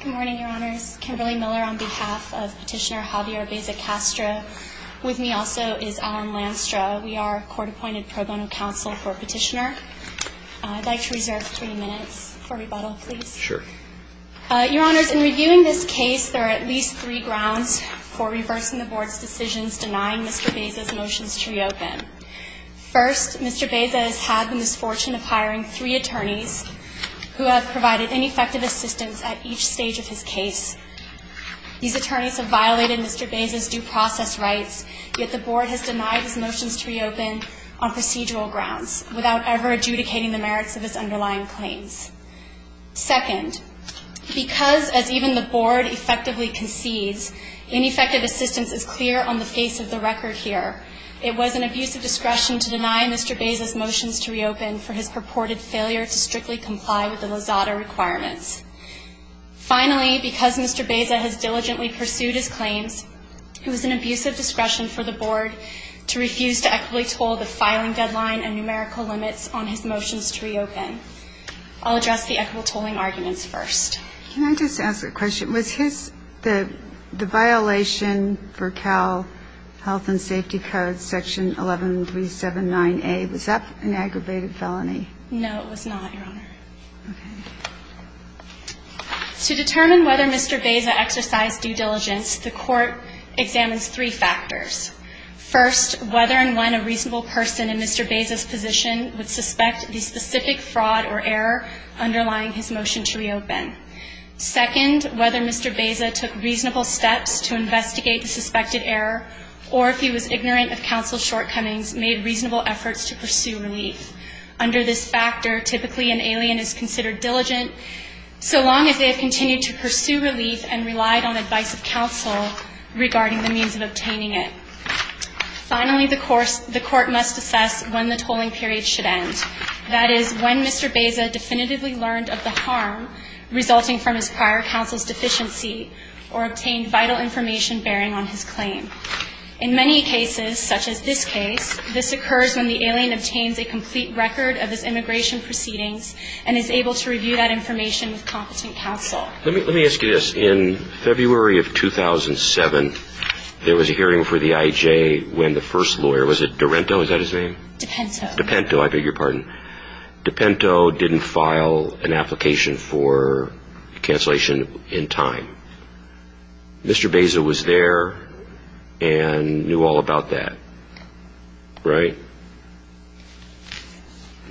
Good morning, Your Honors. Kimberly Miller on behalf of Petitioner Javier Baeza-Castro. With me also is Alan Lanstra. We are Court-Appointed Pro Bono Counsel for Petitioner. I'd like to reserve three minutes for rebuttal, please. Sure. Your Honors, in reviewing this case, there are at least three grounds for reversing the Board's decisions denying Mr. Baeza's motions to reopen. First, Mr. Baeza has had the misfortune of hiring three attorneys who have provided ineffective assistance at each stage of his case. These attorneys have violated Mr. Baeza's due process rights, yet the Board has denied his motions to reopen on procedural grounds, without ever adjudicating the merits of his underlying claims. Second, because, as even the Board effectively concedes, ineffective assistance is clear on the face of the record here, it was an abusive discretion to deny Mr. Baeza's motions to reopen for his purported failure to strictly comply with the Lozada requirements. Finally, because Mr. Baeza has diligently pursued his claims, it was an abusive discretion for the Board to refuse to equitably toll the filing deadline and numerical limits on his motions to reopen. I'll address the equitable tolling arguments first. Can I just ask a question? Was the violation for Cal Health and Safety Code, Section 11379A, was that an aggravated felony? No, it was not, Your Honor. Okay. To determine whether Mr. Baeza exercised due diligence, the Court examines three factors. First, whether and when a reasonable person in Mr. Baeza's position would suspect the specific fraud or error underlying his motion to reopen. Second, whether Mr. Baeza took reasonable steps to investigate the suspected error, or if he was ignorant of counsel's shortcomings, made reasonable efforts to pursue relief. Under this factor, typically an alien is considered diligent, so long as they have continued to pursue relief and relied on advice of counsel regarding the means of obtaining it. Finally, the Court must assess when the tolling period should end. That is, when Mr. Baeza definitively learned of the harm resulting from his prior counsel's deficiency or obtained vital information bearing on his claim. In many cases, such as this case, this occurs when the alien obtains a complete record of his immigration proceedings and is able to review that information with competent counsel. Let me ask you this. In February of 2007, there was a hearing for the IJ when the first lawyer, was it Dorento, is that his name? Dipento. Dipento, I beg your pardon. Dipento didn't file an application for cancellation in time. Mr. Baeza was there and knew all about that, right?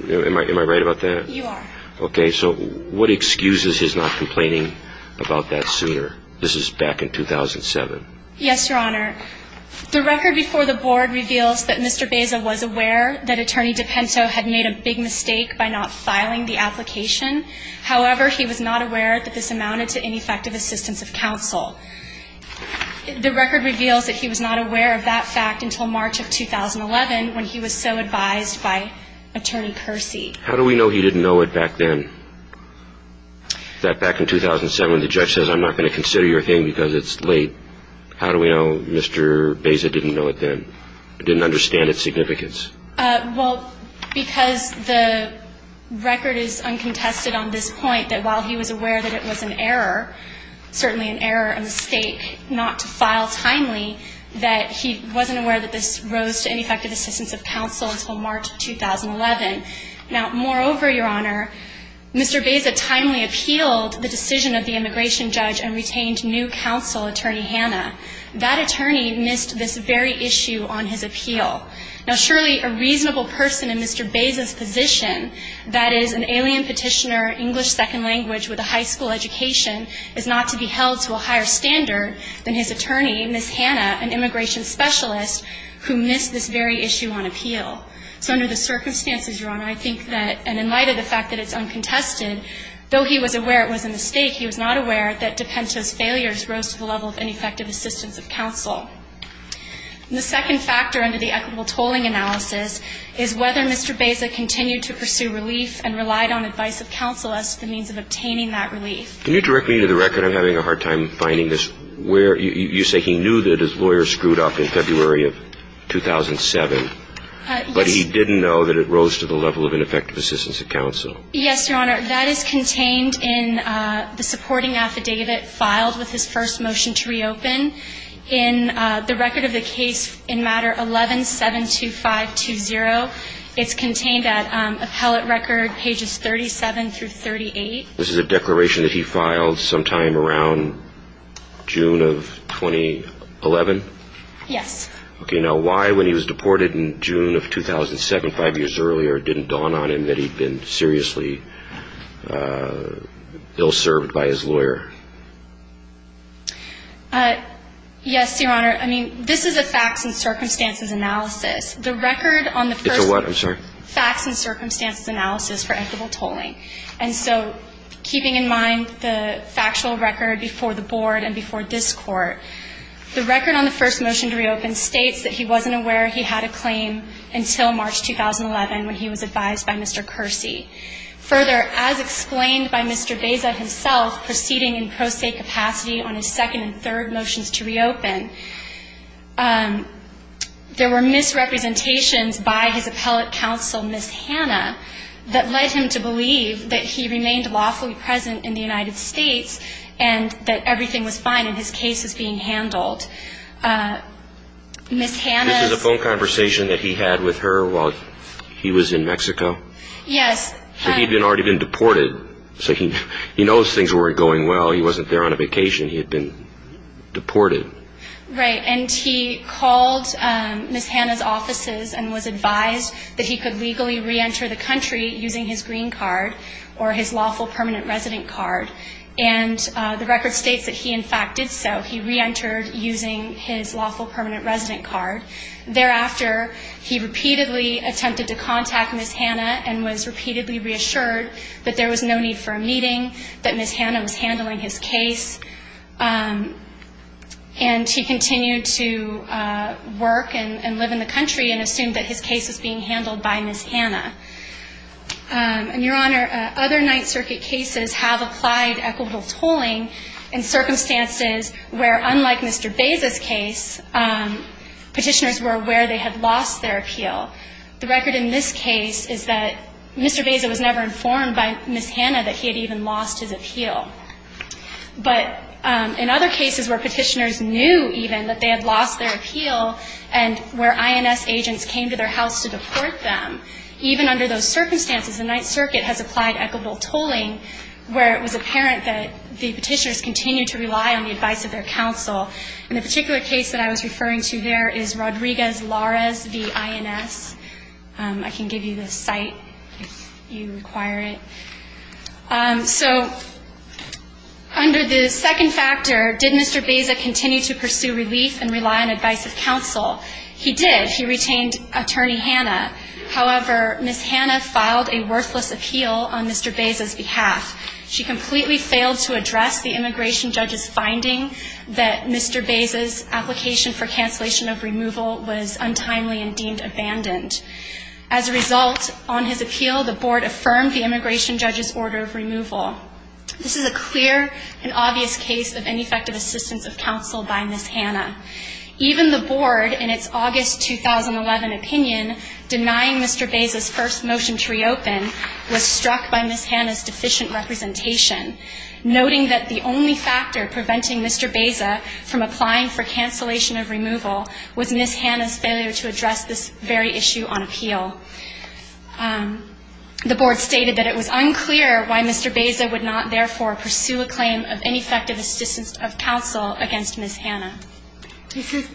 Am I right about that? You are. Okay, so what excuses his not complaining about that sooner? This is back in 2007. Yes, Your Honor. The record before the Board reveals that Mr. Baeza was aware that Attorney Dipento had made a big mistake by not filing the application. However, he was not aware that this amounted to ineffective assistance of counsel. The record reveals that he was not aware of that fact until March of 2011 when he was so advised by Attorney Percy. How do we know he didn't know it back then? That back in 2007, the judge says, I'm not going to consider your thing because it's late. How do we know Mr. Baeza didn't know it then, didn't understand its significance? Well, because the record is uncontested on this point that while he was aware that it was an error, certainly an error, a mistake, not to file timely, that he wasn't aware that this rose to ineffective assistance of counsel until March of 2011. Now, moreover, Your Honor, Mr. Baeza timely appealed the decision of the immigration judge and retained new counsel, Attorney Hanna. That attorney missed this very issue on his appeal. Now, surely a reasonable person in Mr. Baeza's position, that is, an alien petitioner, English second language with a high school education, is not to be held to a higher standard than his attorney, Ms. Hanna, an immigration specialist who missed this very issue on appeal. So under the circumstances, Your Honor, I think that in light of the fact that it's uncontested, though he was aware it was a mistake, he was not aware that Dipento's failures rose to the level of ineffective assistance of counsel. And the second factor under the equitable tolling analysis is whether Mr. Baeza continued to pursue relief and relied on advice of counsel as to the means of obtaining that relief. Can you direct me to the record? I'm having a hard time finding this. You say he knew that his lawyer screwed up in February of 2007. Yes. But he didn't know that it rose to the level of ineffective assistance of counsel. Yes, Your Honor. That is contained in the supporting affidavit filed with his first motion to reopen. In the record of the case in matter 11-72520, it's contained at appellate record pages 37 through 38. This is a declaration that he filed sometime around June of 2011? Yes. Okay. Now, why, when he was deported in June of 2007, five years earlier, didn't it dawn on him that he'd been seriously ill-served by his lawyer? Yes, Your Honor. I mean, this is a facts and circumstances analysis. The record on the first ---- It's a what? I'm sorry. Facts and circumstances analysis for equitable tolling. And so keeping in mind the factual record before the Board and before this Court, the record on the first motion to reopen states that he wasn't aware he had a claim until March 2011 when he was advised by Mr. Kersey. Further, as explained by Mr. Beza himself proceeding in pro se capacity on his second and third motions to reopen, there were misrepresentations by his appellate counsel, Ms. Hanna, that led him to believe that he remained lawfully present in the United States and that everything was fine and his case was being handled. Ms. Hanna's ---- This is a phone conversation that he had with her while he was in Mexico? Yes. So he'd already been deported. So he knows things weren't going well. He wasn't there on a vacation. He had been deported. Right. And he called Ms. Hanna's offices and was advised that he could legally reenter the country using his green card or his lawful permanent resident card. And the record states that he, in fact, did so. He reentered using his lawful permanent resident card. Thereafter, he repeatedly attempted to contact Ms. Hanna and was repeatedly reassured that there was no need for a meeting, that Ms. Hanna was handling his case, and he continued to work and live in the country and assumed that his case was being handled by Ms. Hanna. And, Your Honor, other Ninth Circuit cases have applied equitable tolling in circumstances where, unlike Mr. Beza's case, petitioners were aware they had lost their appeal. The record in this case is that Mr. Beza was never informed by Ms. Hanna that he had even lost his appeal. But in other cases where petitioners knew even that they had lost their appeal and where INS agents came to their house to deport them, even under those circumstances, the Ninth Circuit has applied equitable tolling where it was apparent that the petitioners continued to rely on the advice of their counsel. And the particular case that I was referring to there is Rodriguez-Larez v. INS. I can give you the site if you require it. So under the second factor, did Mr. Beza continue to pursue relief and rely on advice of counsel? He did. He retained Attorney Hanna. However, Ms. Hanna filed a worthless appeal on Mr. Beza's behalf. She completely failed to address the immigration judge's finding that Mr. Beza's application for cancellation of removal was untimely and deemed abandoned. As a result, on his appeal, the Board affirmed the immigration judge's order of removal. This is a clear and obvious case of ineffective assistance of counsel by Ms. Hanna. Even the Board, in its August 2011 opinion, denying Mr. Beza's first motion to reopen, was struck by Ms. Hanna's deficient representation, noting that the only factor preventing Mr. Beza from applying for cancellation of removal was Ms. Hanna's failure to address this very issue on appeal. The Board stated that it was unclear why Mr. Beza would not, therefore, pursue a claim of ineffective assistance of counsel against Ms. Hanna.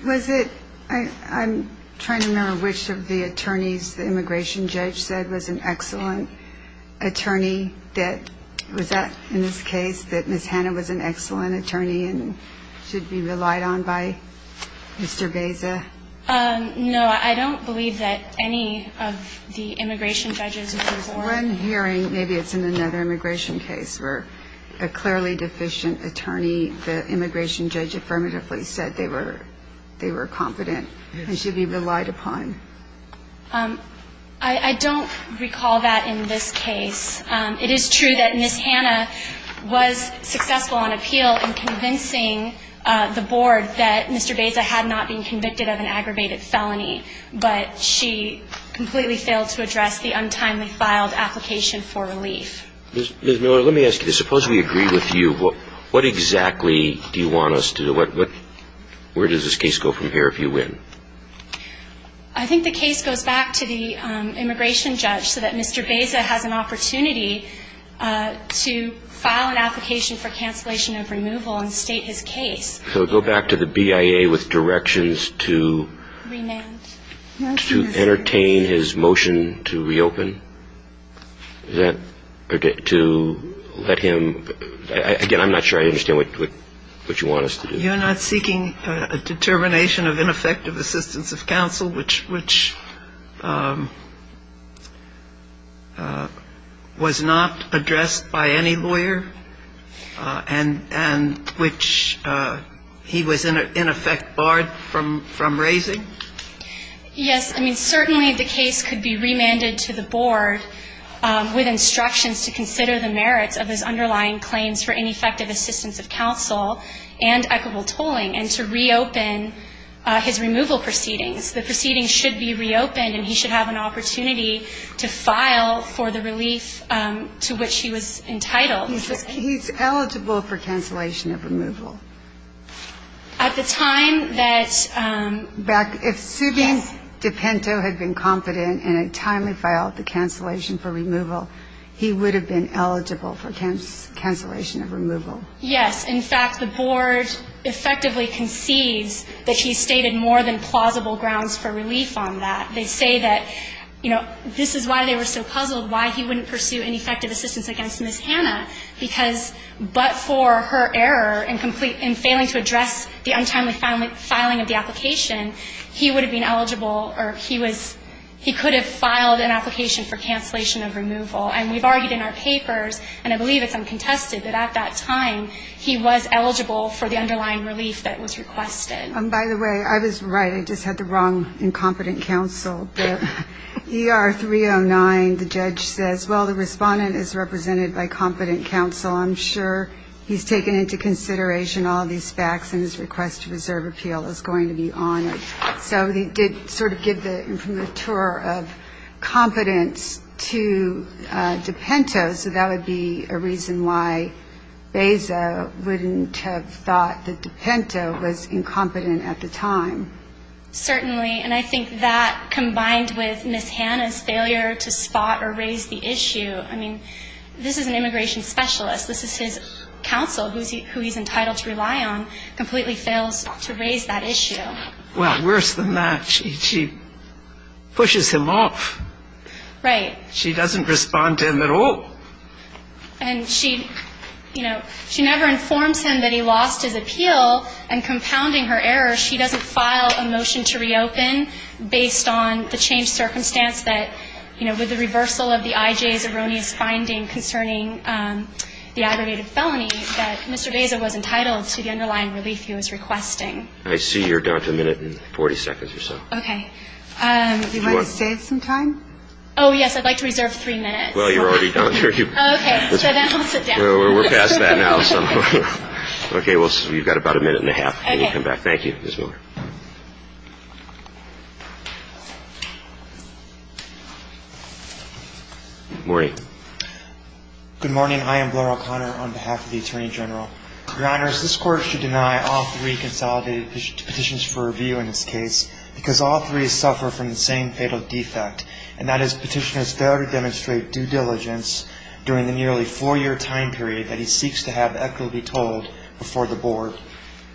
Was it – I'm trying to remember which of the attorneys the immigration judge said was an excellent attorney. Was that, in this case, that Ms. Hanna was an excellent attorney and should be relied on by Mr. Beza? No, I don't believe that any of the immigration judges were. There was one hearing, maybe it's in another immigration case, where a clearly deficient attorney, the immigration judge affirmatively said they were confident and should be relied upon. I don't recall that in this case. It is true that Ms. Hanna was successful on appeal in convincing the Board that Mr. Beza had not been convicted of an aggravated felony, but she completely failed to address the untimely filed application for relief. Ms. Miller, let me ask you this. Suppose we agree with you. What exactly do you want us to do? Where does this case go from here if you win? I think the case goes back to the immigration judge so that Mr. Beza has an opportunity to file an application for cancellation of removal and state his case. So go back to the BIA with directions to entertain his motion to reopen? To let him – again, I'm not sure I understand what you want us to do. You're not seeking a determination of ineffective assistance of counsel, which was not addressed by any lawyer and which he was in effect barred from raising? Yes. I mean, certainly the case could be remanded to the Board with instructions to consider the merits of his underlying claims for ineffective assistance of counsel and equitable tolling and to reopen his removal proceedings. The proceedings should be reopened, and he should have an opportunity to file for the relief to which he was entitled. He's eligible for cancellation of removal? At the time that – If Subin Dipinto had been confident in a timely file of the cancellation for removal, he would have been eligible for cancellation of removal. Yes. In fact, the Board effectively concedes that he's stated more than plausible grounds for relief on that. They say that, you know, this is why they were so puzzled, why he wouldn't pursue ineffective assistance against Ms. Hanna, because but for her error in failing to address the untimely filing of the application, he would have been eligible or he was – he could have filed an application for cancellation of removal. And we've argued in our papers, and I believe it's uncontested, that at that time he was eligible for the underlying relief that was requested. By the way, I was right. I just had the wrong incompetent counsel. But ER 309, the judge says, well, the respondent is represented by competent counsel. I'm sure he's taken into consideration all these facts and his request to reserve appeal is going to be honored. So he did sort of give the imprimatur of competence to DePinto, so that would be a reason why Beza wouldn't have thought that DePinto was incompetent at the time. Certainly, and I think that combined with Ms. Hanna's failure to spot or raise the issue, I mean, this is an immigration specialist. This is his counsel who he's entitled to rely on completely fails to raise that issue. Well, worse than that, she pushes him off. Right. She doesn't respond to him at all. And she, you know, she never informs him that he lost his appeal, and compounding her error, she doesn't file a motion to reopen based on the changed circumstance that, you know, with the reversal of the IJ's erroneous finding concerning the aggravated felony that Mr. Beza was entitled to the underlying relief he was requesting. I see you're down to a minute and 40 seconds or so. Okay. Do you want to save some time? Oh, yes. I'd like to reserve three minutes. Well, you're already down. Okay. So then I'll sit down. We're past that now. Okay. Well, you've got about a minute and a half. Okay. Thank you, Ms. Miller. Morning. Good morning. I am Blair O'Connor on behalf of the Attorney General. Your Honors, this Court should deny all three consolidated petitions for review in this case because all three suffer from the same fatal defect, and that is petitioner's failure to demonstrate due diligence during the nearly four-year time period that he seeks to have equitably told before the Board.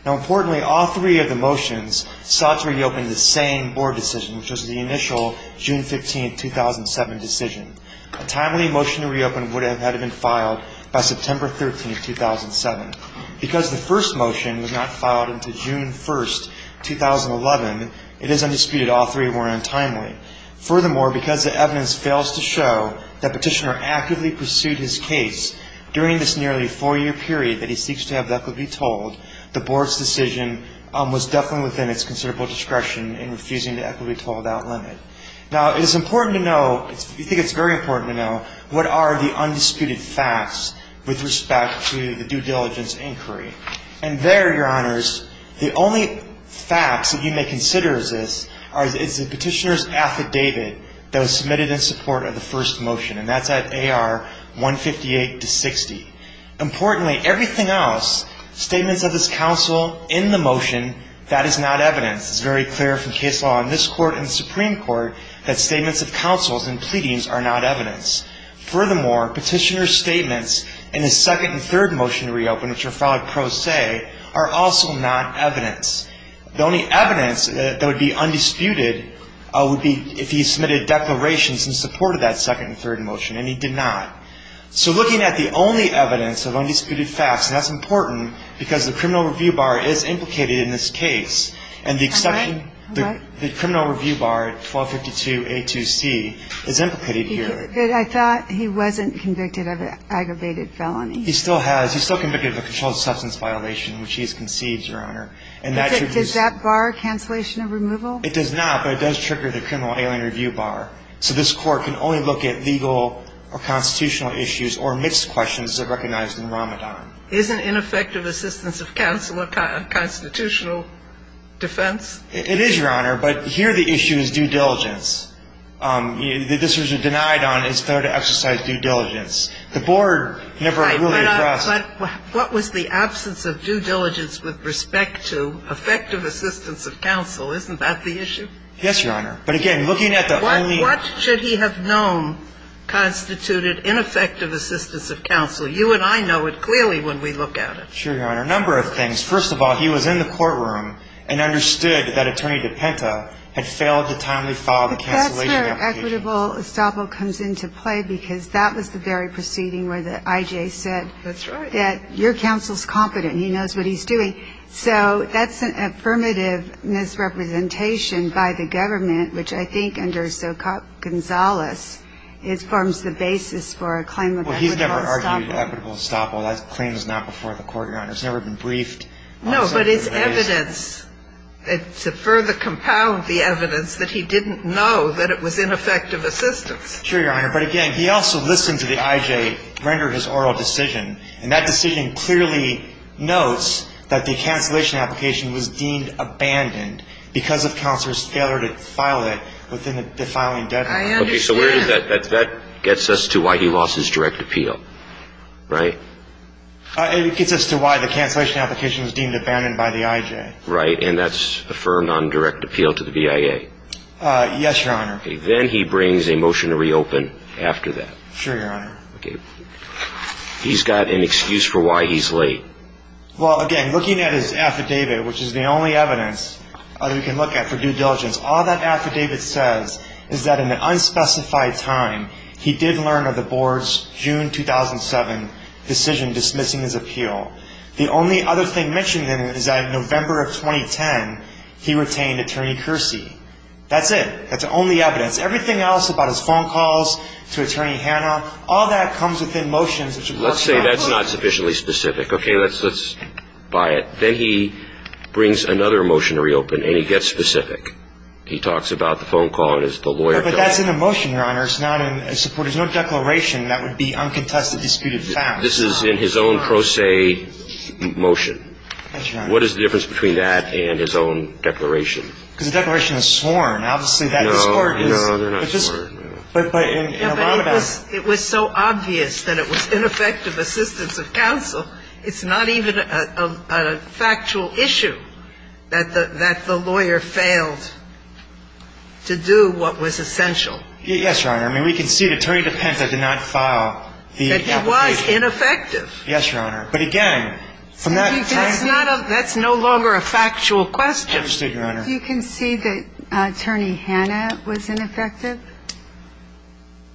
Now, importantly, all three of the motions sought to reopen the same Board decision, which was the initial June 15, 2007, decision. A timely motion to reopen would have had it been filed by September 13, 2007. Because the first motion was not filed until June 1, 2011, it is undisputed all three were untimely. Furthermore, because the evidence fails to show that petitioner actively pursued his case during this nearly four-year period that he seeks to have equitably told, the Board's decision was definitely within its considerable discretion in refusing to equitably told that limit. Now, it is important to know, I think it's very important to know, what are the undisputed facts with respect to the due diligence inquiry. And there, Your Honors, the only facts that you may consider is this, is the petitioner's affidavit that was submitted in support of the first motion, and that's at AR 158-60. Importantly, everything else, statements of this counsel in the motion, that is not evidence. It's very clear from case law in this Court and Supreme Court that statements of counsels and pleadings are not evidence. Furthermore, petitioner's statements in his second and third motion to reopen, which are filed pro se, are also not evidence. The only evidence that would be undisputed would be if he submitted declarations in support of that second and third motion, and he did not. So looking at the only evidence of undisputed facts, and that's important because the criminal review bar is implicated in this case. And the exception, the criminal review bar, 1252A2C, is implicated here. I thought he wasn't convicted of an aggravated felony. He still has. He's still convicted of a controlled substance violation, which he has conceived, Your Honor. Does that bar cancellation of removal? It does not, but it does trigger the criminal alien review bar. So this Court can only look at legal or constitutional issues or mixed questions that are recognized in Ramadan. Isn't ineffective assistance of counsel a constitutional defense? It is, Your Honor. But here the issue is due diligence. This was denied on, it's fair to exercise due diligence. The board never really addressed. Right. But what was the absence of due diligence with respect to effective assistance of counsel? Isn't that the issue? Yes, Your Honor. But again, looking at the only ---- What should he have known constituted ineffective assistance of counsel? You and I know it clearly when we look at it. Sure, Your Honor. A number of things. First of all, he was in the courtroom and understood that Attorney DePinta had failed to timely file the cancellation application. But that's where equitable estoppel comes into play because that was the very proceeding where the I.J. said ---- That's right. ----that your counsel's competent. He knows what he's doing. So that's an affirmative misrepresentation by the government, which I think under so-called Gonzales forms the basis for a claim of equitable estoppel. Well, he's never argued equitable estoppel. That claim is not before the court, Your Honor. It's never been briefed. No, but it's evidence. To further compound the evidence that he didn't know that it was ineffective assistance. Sure, Your Honor. But again, he also listened to the I.J. render his oral decision. And that decision clearly notes that the cancellation application was deemed abandoned because of counsel's failure to file it within the filing deadline. I understand. So that gets us to why he lost his direct appeal, right? It gets us to why the cancellation application was deemed abandoned by the I.J. Right. And that's affirmed on direct appeal to the V.I.A. Yes, Your Honor. Then he brings a motion to reopen after that. Sure, Your Honor. He's got an excuse for why he's late. Well, again, looking at his affidavit, which is the only evidence that we can look at for due diligence, all that affidavit says is that in an unspecified time, he did learn of the board's June 2007 decision dismissing his appeal. The only other thing mentioned in it is that in November of 2010, he retained Attorney Kersey. That's it. That's the only evidence. Everything else about his phone calls to Attorney Hanna, all that comes within motions. Let's say that's not sufficiently specific. Okay, let's buy it. Then he brings another motion to reopen, and he gets specific. He talks about the phone call and is the lawyer. But that's in a motion, Your Honor. It's not in a support. There's no declaration that would be uncontested, disputed, found. This is in his own pro se motion. That's right. What is the difference between that and his own declaration? Because the declaration is sworn, obviously. No, no, they're not sworn. But it was so obvious that it was ineffective assistance of counsel. It's not even a factual issue that the lawyer failed to do what was essential. Yes, Your Honor. I mean, we can see that Attorney DePenza did not file the application. That he was ineffective. Yes, Your Honor. But, again, from that time to the present. That's no longer a factual question. Understood, Your Honor. Do you concede that Attorney Hanna was ineffective?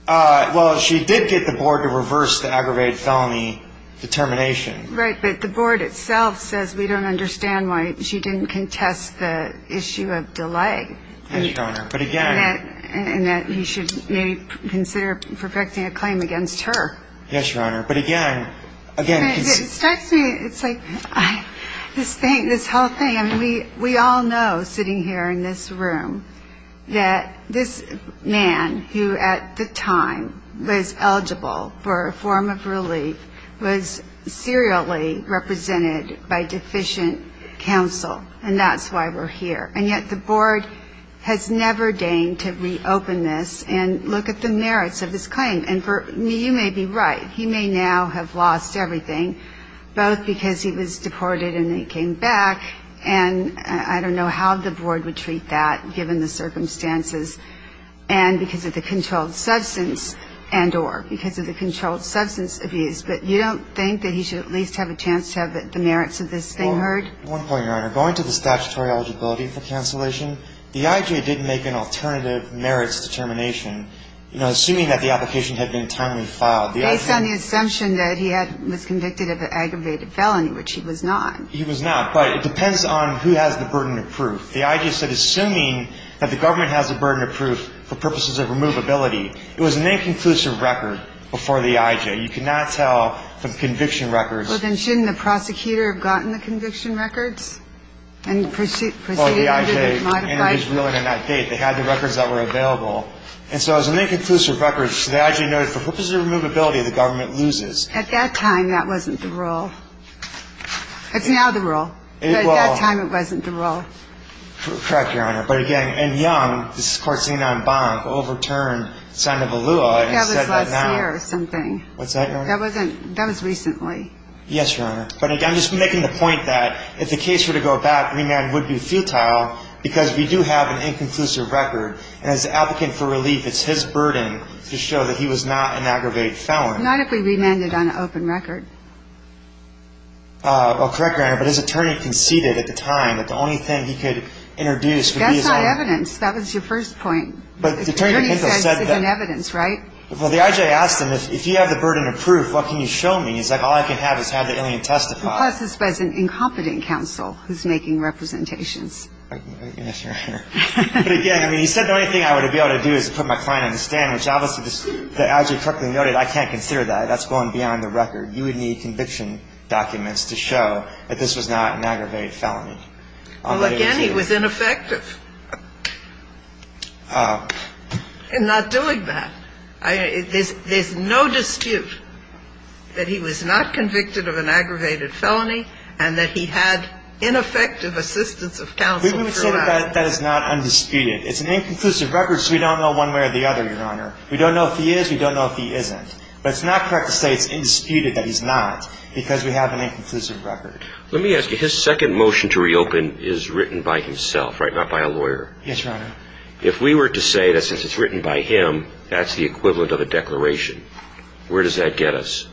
Well, she did get the board to reverse the aggravated felony determination. Right. But the board itself says we don't understand why she didn't contest the issue of delay. Yes, Your Honor. But, again. And that you should maybe consider perfecting a claim against her. Yes, Your Honor. But, again, again. It strikes me. It's like this thing, this whole thing. And we all know, sitting here in this room, that this man, who at the time was eligible for a form of relief, was serially represented by deficient counsel. And that's why we're here. And yet the board has never deigned to reopen this and look at the merits of this claim. And you may be right. He may now have lost everything, both because he was deported and he came back. And I don't know how the board would treat that, given the circumstances, and because of the controlled substance and or because of the controlled substance abuse. But you don't think that he should at least have a chance to have the merits of this thing heard? One point, Your Honor. Going to the statutory eligibility for cancellation, the IJ did make an alternative merits determination. You know, assuming that the application had been timely filed. Based on the assumption that he was convicted of an aggravated felony, which he was not. He was not. But it depends on who has the burden of proof. The IJ said assuming that the government has the burden of proof for purposes of removability. It was an inconclusive record before the IJ. You cannot tell from conviction records. Well, then shouldn't the prosecutor have gotten the conviction records and proceeded under the modified? Well, the IJ entered his ruling on that date. They had the records that were available. And so as an inconclusive record, the IJ noted, for purposes of removability, the government loses. At that time, that wasn't the rule. It's now the rule. But at that time, it wasn't the rule. Correct, Your Honor. But, again, in Young, this is court seen on Bonk, overturned Sandoval Lua and said that now. That was last year or something. What's that, Your Honor? That was recently. Yes, Your Honor. But, again, I'm just making the point that if the case were to go back, remand would be futile, because we do have an inconclusive record. And as an applicant for relief, it's his burden to show that he was not an aggravated felon. Not if we remanded on an open record. Well, correct, Your Honor. But his attorney conceded at the time that the only thing he could introduce would be his own. That's not evidence. That was your first point. But the attorney said this is evidence, right? Well, the IJ asked him, if you have the burden of proof, what can you show me? He's like, all I can have is have the alien testify. Plus, it's by an incompetent counsel who's making representations. Yes, Your Honor. But, again, I mean, he said the only thing I would be able to do is put my client on the stand, which obviously, as you correctly noted, I can't consider that. That's going beyond the record. You would need conviction documents to show that this was not an aggravated felony. Well, again, he was ineffective in not doing that. There's no dispute that he was not convicted of an aggravated felony and that he had ineffective assistance of counsel throughout. We would say that that is not undisputed. It's an inconclusive record, so we don't know one way or the other, Your Honor. We don't know if he is. We don't know if he isn't. But it's not correct to say it's indisputed that he's not because we have an inconclusive record. Let me ask you, his second motion to reopen is written by himself, right, not by a lawyer? Yes, Your Honor. If we were to say that since it's written by him, that's the equivalent of a declaration, where does that get us?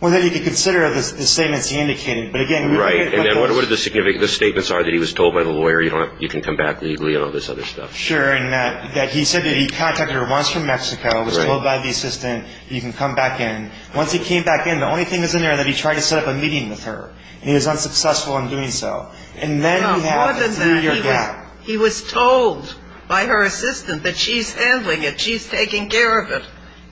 Well, then you could consider the statements he indicated. Right. And then what are the significant statements are that he was told by the lawyer you can come back legally and all this other stuff? Sure. And that he said that he contacted her once from Mexico, was told by the assistant you can come back in. Once he came back in, the only thing that's in there is that he tried to set up a meeting with her, and he was unsuccessful in doing so. And then we have a three-year gap. He was told by her assistant that she's handling it, she's taking care of it.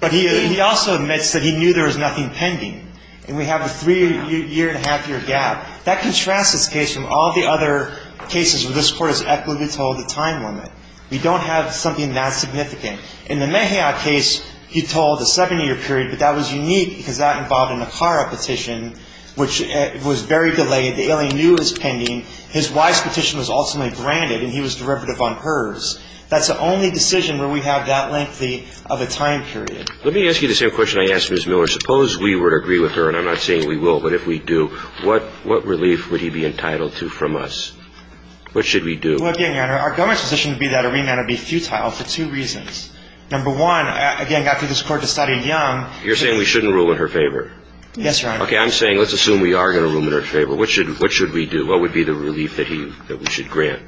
But he also admits that he knew there was nothing pending. And we have a three-year and a half-year gap. That contrasts this case from all the other cases where this Court has equitably told a time limit. We don't have something that significant. In the Mejia case, he told a seven-year period, but that was unique because that involved a NACARA petition, which was very delayed. The alien knew it was pending. His WISE petition was ultimately granted, and he was derivative on hers. That's the only decision where we have that length of a time period. Let me ask you the same question I asked Ms. Miller. Suppose we were to agree with her, and I'm not saying we will, but if we do, what relief would he be entitled to from us? What should we do? Well, again, Your Honor, our government's position would be that a remand would be futile for two reasons. Number one, again, after this Court decided young. You're saying we shouldn't rule in her favor? Yes, Your Honor. Okay, I'm saying let's assume we are going to rule in her favor. What should we do? What would be the relief that we should grant?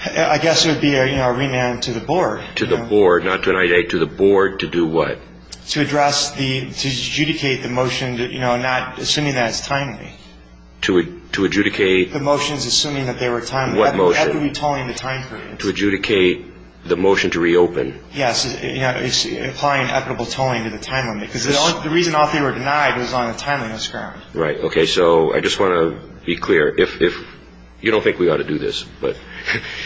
I guess it would be a remand to the board. To the board, not to an IDA. To the board to do what? To address the – to adjudicate the motion, you know, not – assuming that it's timely. To adjudicate? The motions assuming that they were timely. What motion? That would be tolling the time period. To adjudicate the motion to reopen? Yes, you know, applying equitable tolling to the time limit. Because the reason all three were denied was on the timeliness ground. Right. Okay, so I just want to be clear. You don't think we ought to do this. But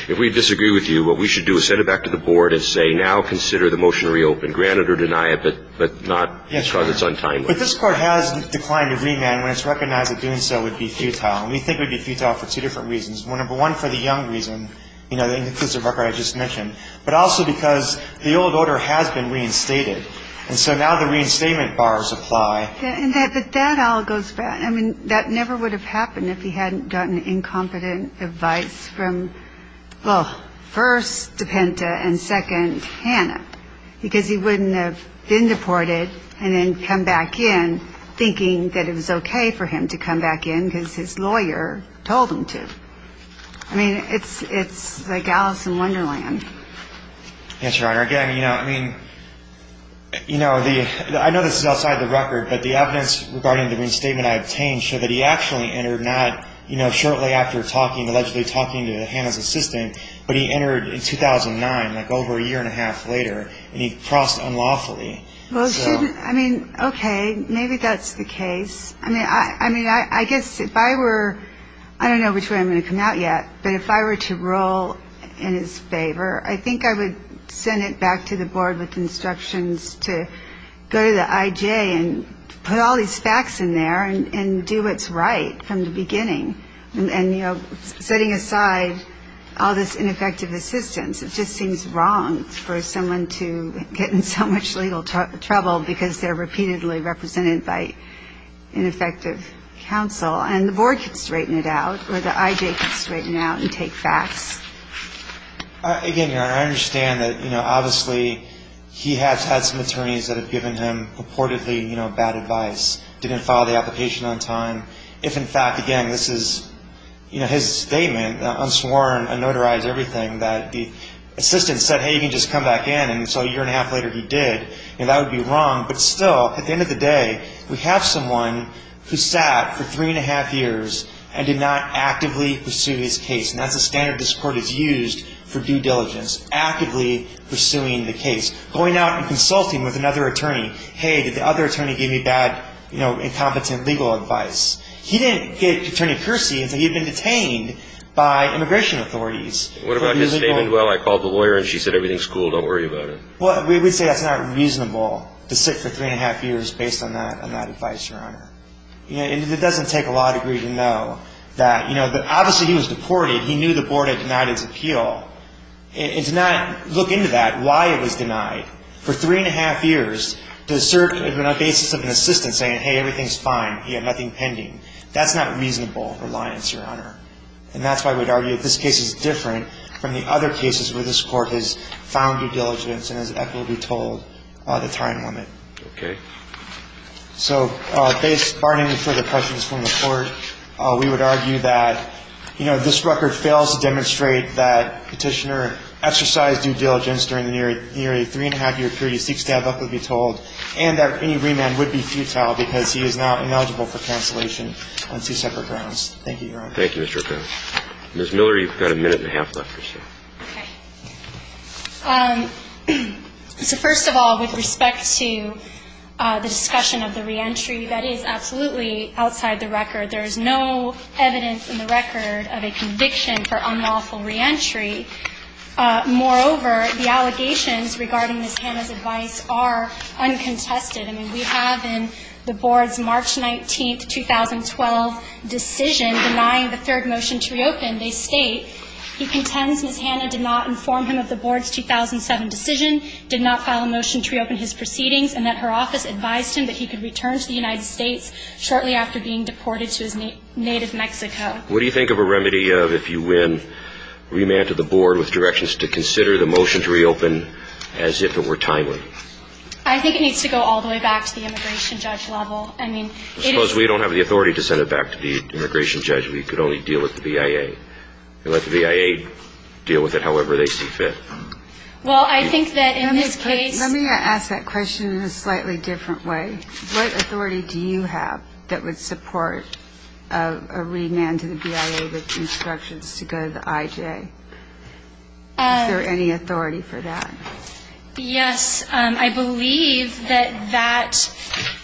if we disagree with you, what we should do is send it back to the board and say now consider the motion reopened, grant it or deny it, but not because it's untimely. Yes, Your Honor. But this Court has declined a remand when it's recognized that doing so would be futile. And we think it would be futile for two different reasons. Number one, for the young reason, you know, in the case of Rucker I just mentioned. But also because the old order has been reinstated. And so now the reinstatement bars apply. And that all goes back. I mean, that never would have happened if he hadn't gotten incompetent advice from, well, first, DePenta, and second, Hannah. Because he wouldn't have been deported and then come back in thinking that it was okay for him to come back in because his lawyer told him to. I mean, it's like Alice in Wonderland. Yes, Your Honor. Again, you know, I mean, you know, I know this is outside the record, but the evidence regarding the reinstatement I obtained showed that he actually entered not, you know, shortly after talking, allegedly talking to Hannah's assistant, but he entered in 2009, like over a year and a half later, and he crossed unlawfully. Well, shouldn't, I mean, okay, maybe that's the case. I mean, I guess if I were, I don't know which way I'm going to come out yet, but if I were to rule in his favor, I think I would send it back to the board with instructions to go to the IJ and put all these facts in there and do what's right from the beginning. And, you know, setting aside all this ineffective assistance, it just seems wrong for someone to get in so much legal trouble because they're repeatedly represented by ineffective counsel. And the board can straighten it out, or the IJ can straighten it out and take facts. Again, Your Honor, I understand that, you know, obviously he has had some attorneys that have given him purportedly, you know, bad advice, didn't follow the application on time. If, in fact, again, this is, you know, his statement, unsworn, unnotarized, everything, that the assistant said, hey, you can just come back in, and so a year and a half later he did, you know, that would be wrong. But still, at the end of the day, we have someone who sat for three and a half years and did not actively pursue his case, and that's the standard this Court has used for due diligence, actively pursuing the case, going out and consulting with another attorney. Hey, did the other attorney give me bad, you know, incompetent legal advice? He didn't get Attorney Percy until he had been detained by immigration authorities. What about his statement, well, I called the lawyer and she said everything's cool, don't worry about it? Well, we would say that's not reasonable to sit for three and a half years based on that advice, Your Honor. You know, and it doesn't take a law degree to know that, you know, obviously he was deported. He knew the Board had denied his appeal. And to not look into that, why it was denied, for three and a half years, to assert on the basis of an assistant saying, hey, everything's fine, he had nothing pending, that's not reasonable reliance, Your Honor. And that's why we'd argue that this case is different from the other cases where this Court has found due diligence and, as Eck will be told, the time limit. Okay. So based, barring further questions from the Court, we would argue that, you know, if this record fails to demonstrate that Petitioner exercised due diligence during the nearly three and a half year period, he seeks to have Eck be told, and that any remand would be futile because he is now ineligible for cancellation on two separate grounds. Thank you, Your Honor. Thank you, Mr. O'Connor. Ms. Miller, you've got a minute and a half left. Okay. So first of all, with respect to the discussion of the reentry, that is absolutely outside the record. There is no evidence in the record of a conviction for unlawful reentry. Moreover, the allegations regarding Ms. Hanna's advice are uncontested. I mean, we have in the Board's March 19, 2012 decision denying the third motion to reopen, and they state he contends Ms. Hanna did not inform him of the Board's 2007 decision, did not file a motion to reopen his proceedings, and that her office advised him that he could return to the United States shortly after being deported to his native Mexico. What do you think of a remedy of, if you win, remand to the Board with directions to consider the motion to reopen as if it were timely? I think it needs to go all the way back to the immigration judge level. I suppose we don't have the authority to send it back to the immigration judge. We could only deal with the BIA. Let the BIA deal with it however they see fit. Well, I think that in this case ---- Let me ask that question in a slightly different way. What authority do you have that would support a remand to the BIA with instructions to go to the IJ? Is there any authority for that? Yes. I believe that that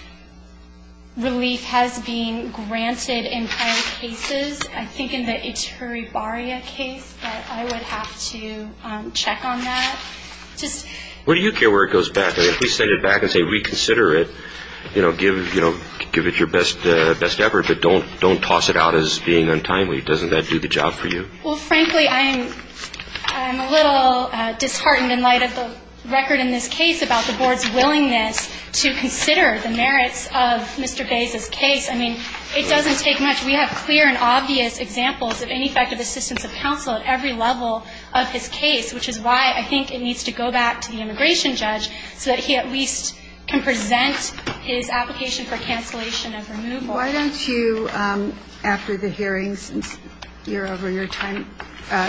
relief has been granted in prior cases. I think in the Ituri Barria case, but I would have to check on that. What do you care where it goes back? If we send it back and say reconsider it, give it your best effort, but don't toss it out as being untimely. Doesn't that do the job for you? Well, frankly, I'm a little disheartened in light of the record in this case about the Board's willingness to consider the merits of Mr. Bays' case. I mean, it doesn't take much. We have clear and obvious examples of ineffective assistance of counsel at every level of his case, which is why I think it needs to go back to the immigration judge so that he at least can present his application for cancellation of removal. Why don't you, after the hearing, since you're over your time,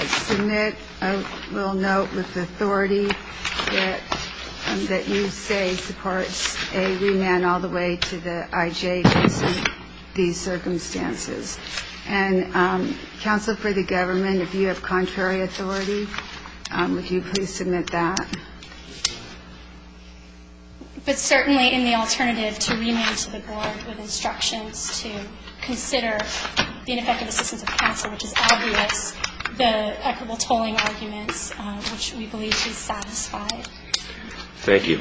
submit a little note with authority that you say supports a remand all the way to the IJ in some of these circumstances? And Counsel for the Government, if you have contrary authority, would you please submit that? But certainly in the alternative to remand to the Board with instructions to consider the ineffective assistance of counsel, which is obvious, the equitable tolling arguments, which we believe is satisfied. Thank you.